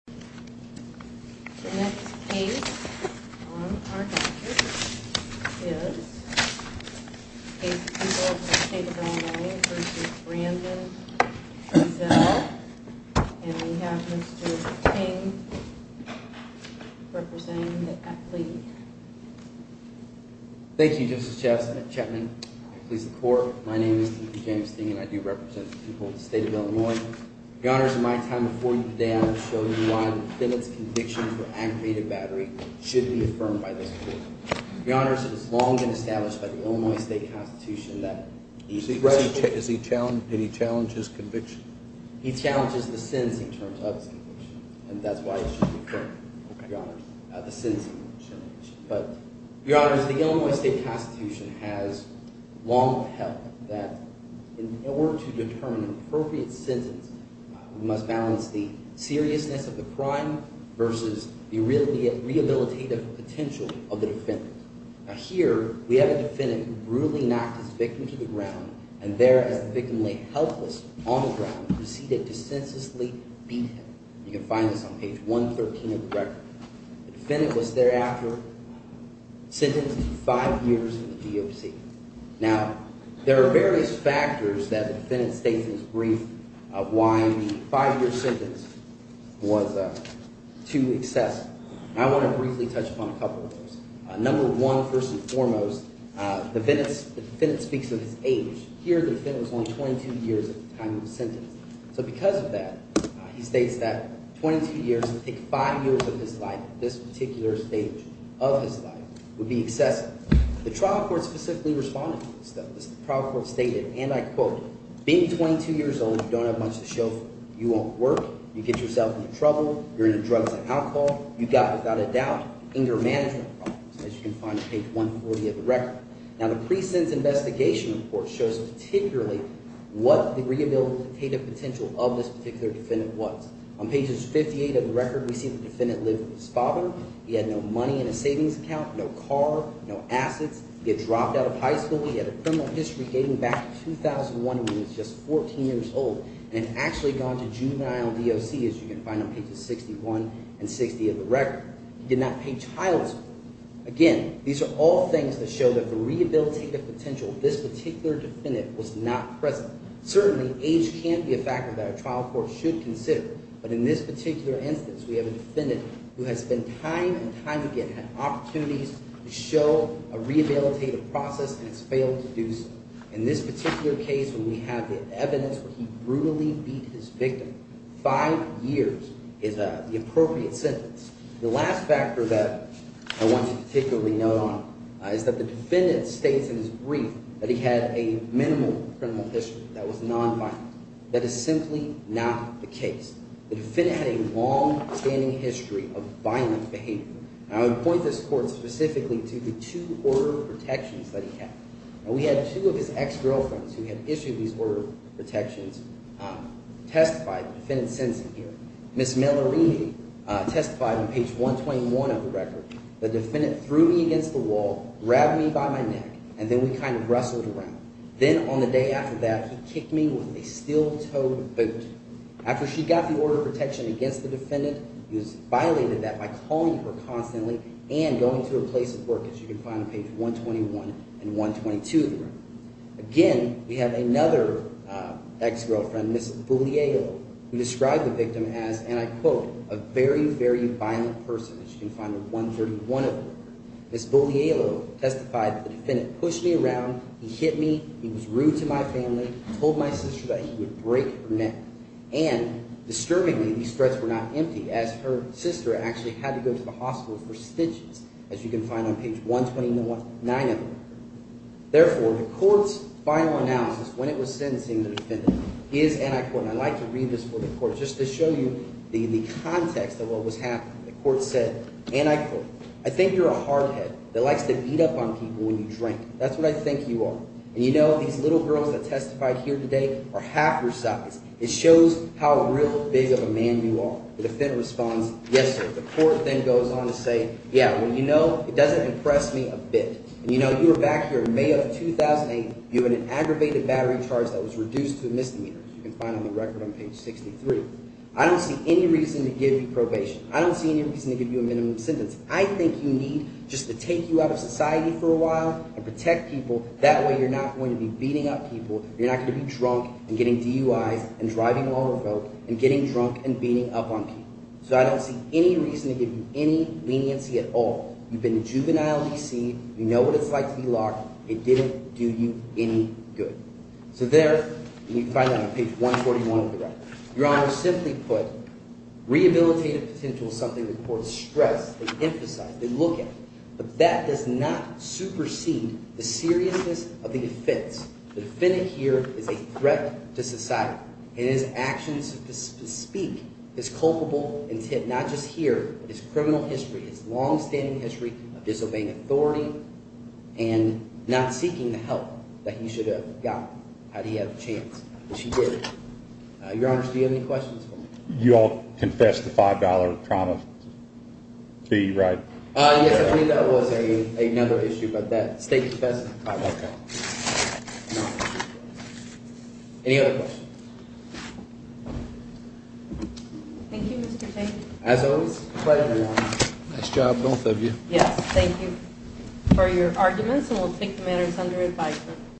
The next case on our agenda is the case of People of the State of Illinois v. Brandon v. Ezzell, and we have Mr. Ting representing the athlete. Thank you Justice Chetman, Police Department. My name is D.P. James Ting and I do represent the people of the State of Illinois. Your Honor, in my time before you today, I will show you why the defendant's conviction for aggravated battery should be affirmed by this court. Your Honor, it was long established by the Illinois State Constitution that he should… Did he challenge his conviction? He challenges the sentence in terms of his conviction, and that's why it should be affirmed, Your Honor, the sentencing challenge. But, Your Honor, the Illinois State Constitution has long held that in order to determine an appropriate sentence, we must balance the seriousness of the crime versus the rehabilitative potential of the defendant. Now here, we have a defendant who brutally knocked his victim to the ground, and there, as the victim lay helpless on the ground, proceeded to senselessly beat him. You can find this on page 113 of the record. The defendant was thereafter sentenced to five years in the GOC. Now, there are various factors that the defendant states in his brief of why the five-year sentence was too excessive. I want to briefly touch upon a couple of those. Number one, first and foremost, the defendant speaks of his age. Here, the defendant was only 22 years at the time he was sentenced. So because of that, he states that 22 years would take five years of his life. This particular stage of his life would be excessive. The trial court specifically responded to this though. The trial court stated, and I quote, being 22 years old, you don't have much to show for it. You won't work. You get yourself into trouble. You're into drugs and alcohol. You've got, without a doubt, anger management problems, as you can find on page 140 of the record. Now, the pre-sentence investigation report shows particularly what the rehabilitative potential of this particular defendant was. On pages 58 of the record, we see the defendant lived with his father. He had no money in his savings account, no car, no assets. He had dropped out of high school. He had a criminal history dating back to 2001 when he was just 14 years old and had actually gone to juvenile GOC, as you can find on pages 61 and 60 of the record. He did not pay child support. Again, these are all things that show that the rehabilitative potential of this particular defendant was not present. Certainly, age can't be a factor that a trial court should consider, but in this particular instance, we have a defendant who has spent time and time again had opportunities to show a rehabilitative process and has failed to do so. In this particular case, when we have the evidence where he brutally beat his victim five years is the appropriate sentence. The last factor that I want to particularly note on is that the defendant states in his brief that he had a minimal criminal history that was nonviolent. That is simply not the case. The defendant had a longstanding history of violent behavior. And I would point this court specifically to the two order of protections that he had. Now, we had two of his ex-girlfriends who had issued these order of protections testify, the defendant's sentencing here. Ms. Malarini testified on page 121 of the record. The defendant threw me against the wall, grabbed me by my neck, and then we kind of wrestled around. Then on the day after that, he kicked me with a steel-toed boot. After she got the order of protection against the defendant, he has violated that by calling her constantly and going to her place of work, as you can find on page 121 and 122 of the record. Again, we have another ex-girlfriend, Ms. Buglielo, who described the victim as, and I quote, a very, very violent person, as you can find on 131 of the record. Ms. Buglielo testified that the defendant pushed me around, he hit me, he was rude to my family, told my sister that he would break her neck. And disturbingly, these threats were not empty, as her sister actually had to go to the hospital for stitches, as you can find on page 129 of the record. Therefore, the court's final analysis when it was sentencing the defendant is anti-court, and I'd like to read this for the court just to show you the context of what was happening. The court said, and I quote, I think you're a hardhead that likes to beat up on people when you drink. That's what I think you are. And you know, these little girls that testified here today are half your size. It shows how real big of a man you are. The defendant responds, yes, sir. The court then goes on to say, yeah, well, you know, it doesn't impress me a bit. And you know, you were back here in May of 2008. You had an aggravated battery charge that was reduced to a misdemeanor, as you can find on the record on page 63. I don't see any reason to give you probation. I don't see any reason to give you a minimum sentence. I think you need just to take you out of society for a while and protect people. That way you're not going to be beating up people. You're not going to be drunk and getting DUIs and driving while we're both and getting drunk and beating up on people. So I don't see any reason to give you any leniency at all. You've been juvenilely seen. You know what it's like to be locked. It didn't do you any good. So there, you can find that on page 141 of the record. Your Honor, simply put, rehabilitative potential is something the courts stress, they emphasize, they look at. But that does not supersede the seriousness of the offense. The defendant here is a threat to society. And his actions to speak, his culpable intent, not just here, but his criminal history, his longstanding history of disobeying authority and not seeking the help that he should have gotten had he had the chance, which he did. Your Honor, do you have any questions for me? You all confess the $5 trauma fee, right? Yes, I believe that was another issue, but that state confession. Okay. Any other questions? Thank you, Mr. Tate. As always, a pleasure, Your Honor. Nice job, both of you. Yes, thank you for your arguments, and we'll take the matters under advisement.